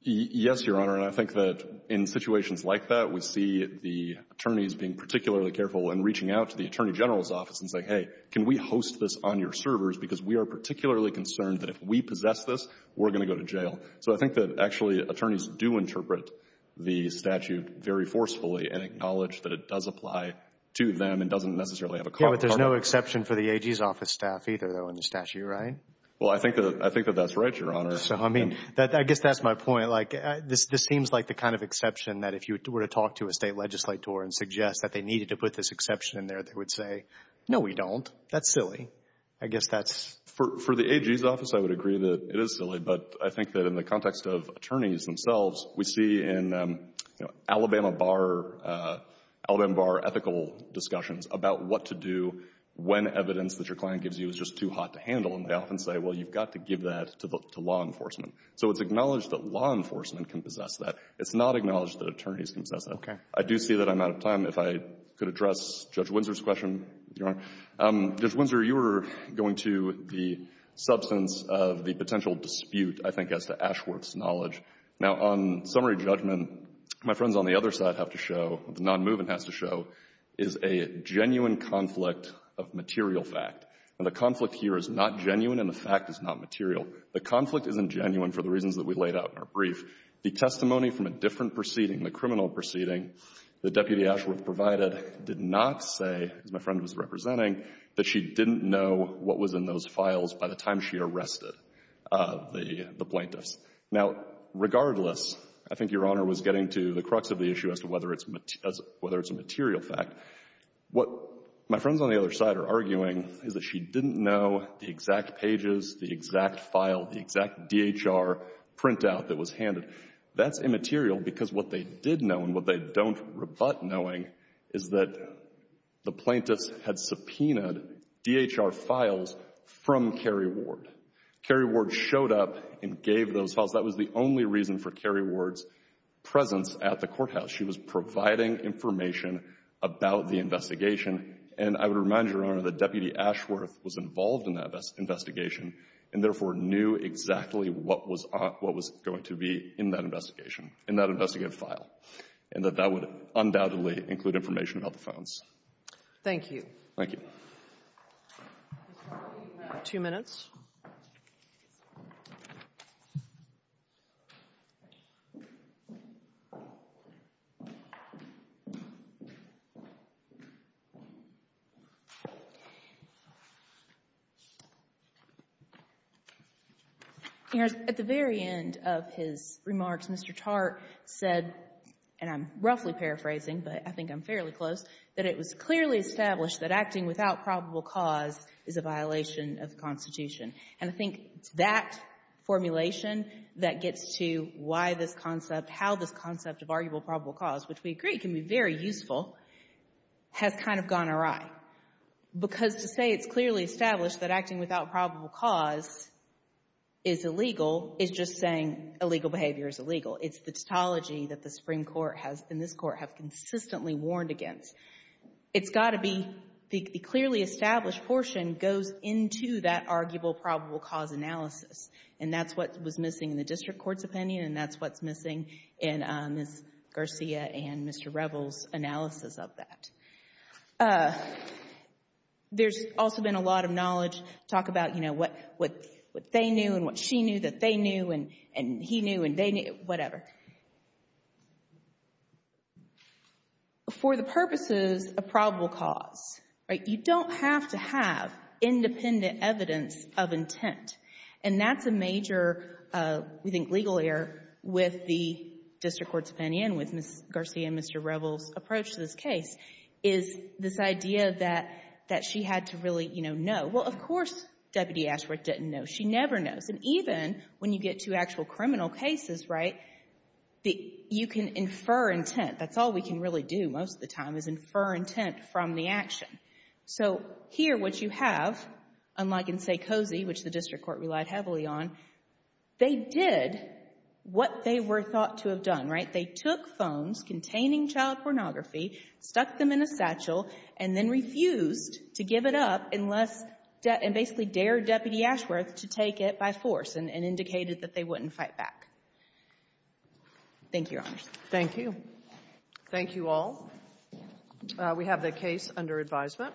Yes, Your Honor, and I think that in situations like that, we see the attorneys being particularly careful when reaching out to the attorney general's office and saying, hey, can we host this on your servers because we are particularly concerned that if we possess this, we're going to go to jail. So I think that actually attorneys do interpret the statute very forcefully and acknowledge that it does apply to them and doesn't necessarily have a cause. Yeah, but there's no exception for the AG's office staff either, though, in the statute, right? Well, I think that that's right, Your Honor. So, I mean, I guess that's my point. Like, this seems like the kind of exception that if you were to talk to a state legislator and suggest that they needed to put this exception in there, they would say, no, we don't. That's silly. I guess that's — For the AG's office, I would agree that it is silly, but I think that in the context of attorneys themselves, we see in, you know, Alabama Bar — Alabama Bar ethical discussions about what to do when evidence that your client gives you is just too hot to handle, and they often say, well, you've got to give that to law enforcement. So it's acknowledged that law enforcement can possess that. It's not acknowledged that attorneys can possess that. Okay. I do see that I'm out of time. If I could address Judge Windsor's question, Your Honor. Judge Windsor, you were going to the substance of the potential dispute, I think, as to Ashworth's knowledge. Now, on summary judgment, my friends on the other side have to show, the nonmovement has to show, is a genuine conflict of material fact. Now, the conflict here is not genuine, and the fact is not material. The conflict isn't genuine for the reasons that we laid out in our brief. The testimony from a different proceeding, the criminal proceeding that Deputy Knox say, as my friend was representing, that she didn't know what was in those files by the time she arrested the plaintiffs. Now, regardless, I think Your Honor was getting to the crux of the issue as to whether it's a material fact. What my friends on the other side are arguing is that she didn't know the exact pages, the exact file, the exact DHR printout that was handed. That's immaterial because what they did know and what they don't rebut knowing is that the plaintiffs had subpoenaed DHR files from Carrie Ward. Carrie Ward showed up and gave those files. That was the only reason for Carrie Ward's presence at the courthouse. She was providing information about the investigation, and I would remind you, Your Honor, that Deputy Ashworth was involved in that investigation and therefore knew exactly what was going to be in that investigation, in that investigative file, and that that would undoubtedly include information about the phones. Thank you. Thank you. Two minutes. At the very end of his remarks, Mr. Tartt said, and I'm roughly paraphrasing, but I think I'm fairly close, that it was clearly established that acting without probable cause is a violation of the Constitution. And I think it's that formulation that gets to why this concept, how this concept of arguable probable cause, which we agree can be very useful, has kind of gone awry. Because to say it's clearly established that acting without probable cause is illegal is just saying illegal behavior is illegal. It's the tautology that the Supreme Court has and this Court have consistently warned against. It's got to be the clearly established portion goes into that arguable probable cause analysis, and that's what was missing in the district court's opinion, and that's what's missing in Ms. Garcia and Mr. Revels' analysis of that. There's also been a lot of knowledge talk about, you know, what they knew and what she knew that they knew and he knew and they knew, whatever. For the purposes of probable cause, right, you don't have to have independent evidence of intent. And that's a major, we think, legal error with the district court's opinion, with Ms. Garcia and Mr. Revels' approach to this case, is this idea that she had to really, you know, know. Well, of course, Deputy Ashworth didn't know. She never knows. And even when you get to actual criminal cases, right, you can infer intent. That's all we can really do most of the time is infer intent from the action. So here what you have, unlike in Sekozy, which the district court relied heavily on, they did what they were thought to have done, right? They took phones containing child pornography, stuck them in a satchel, and then indicated that they wouldn't fight back. Thank you, Your Honors. Thank you. Thank you all. We have the case under advisement.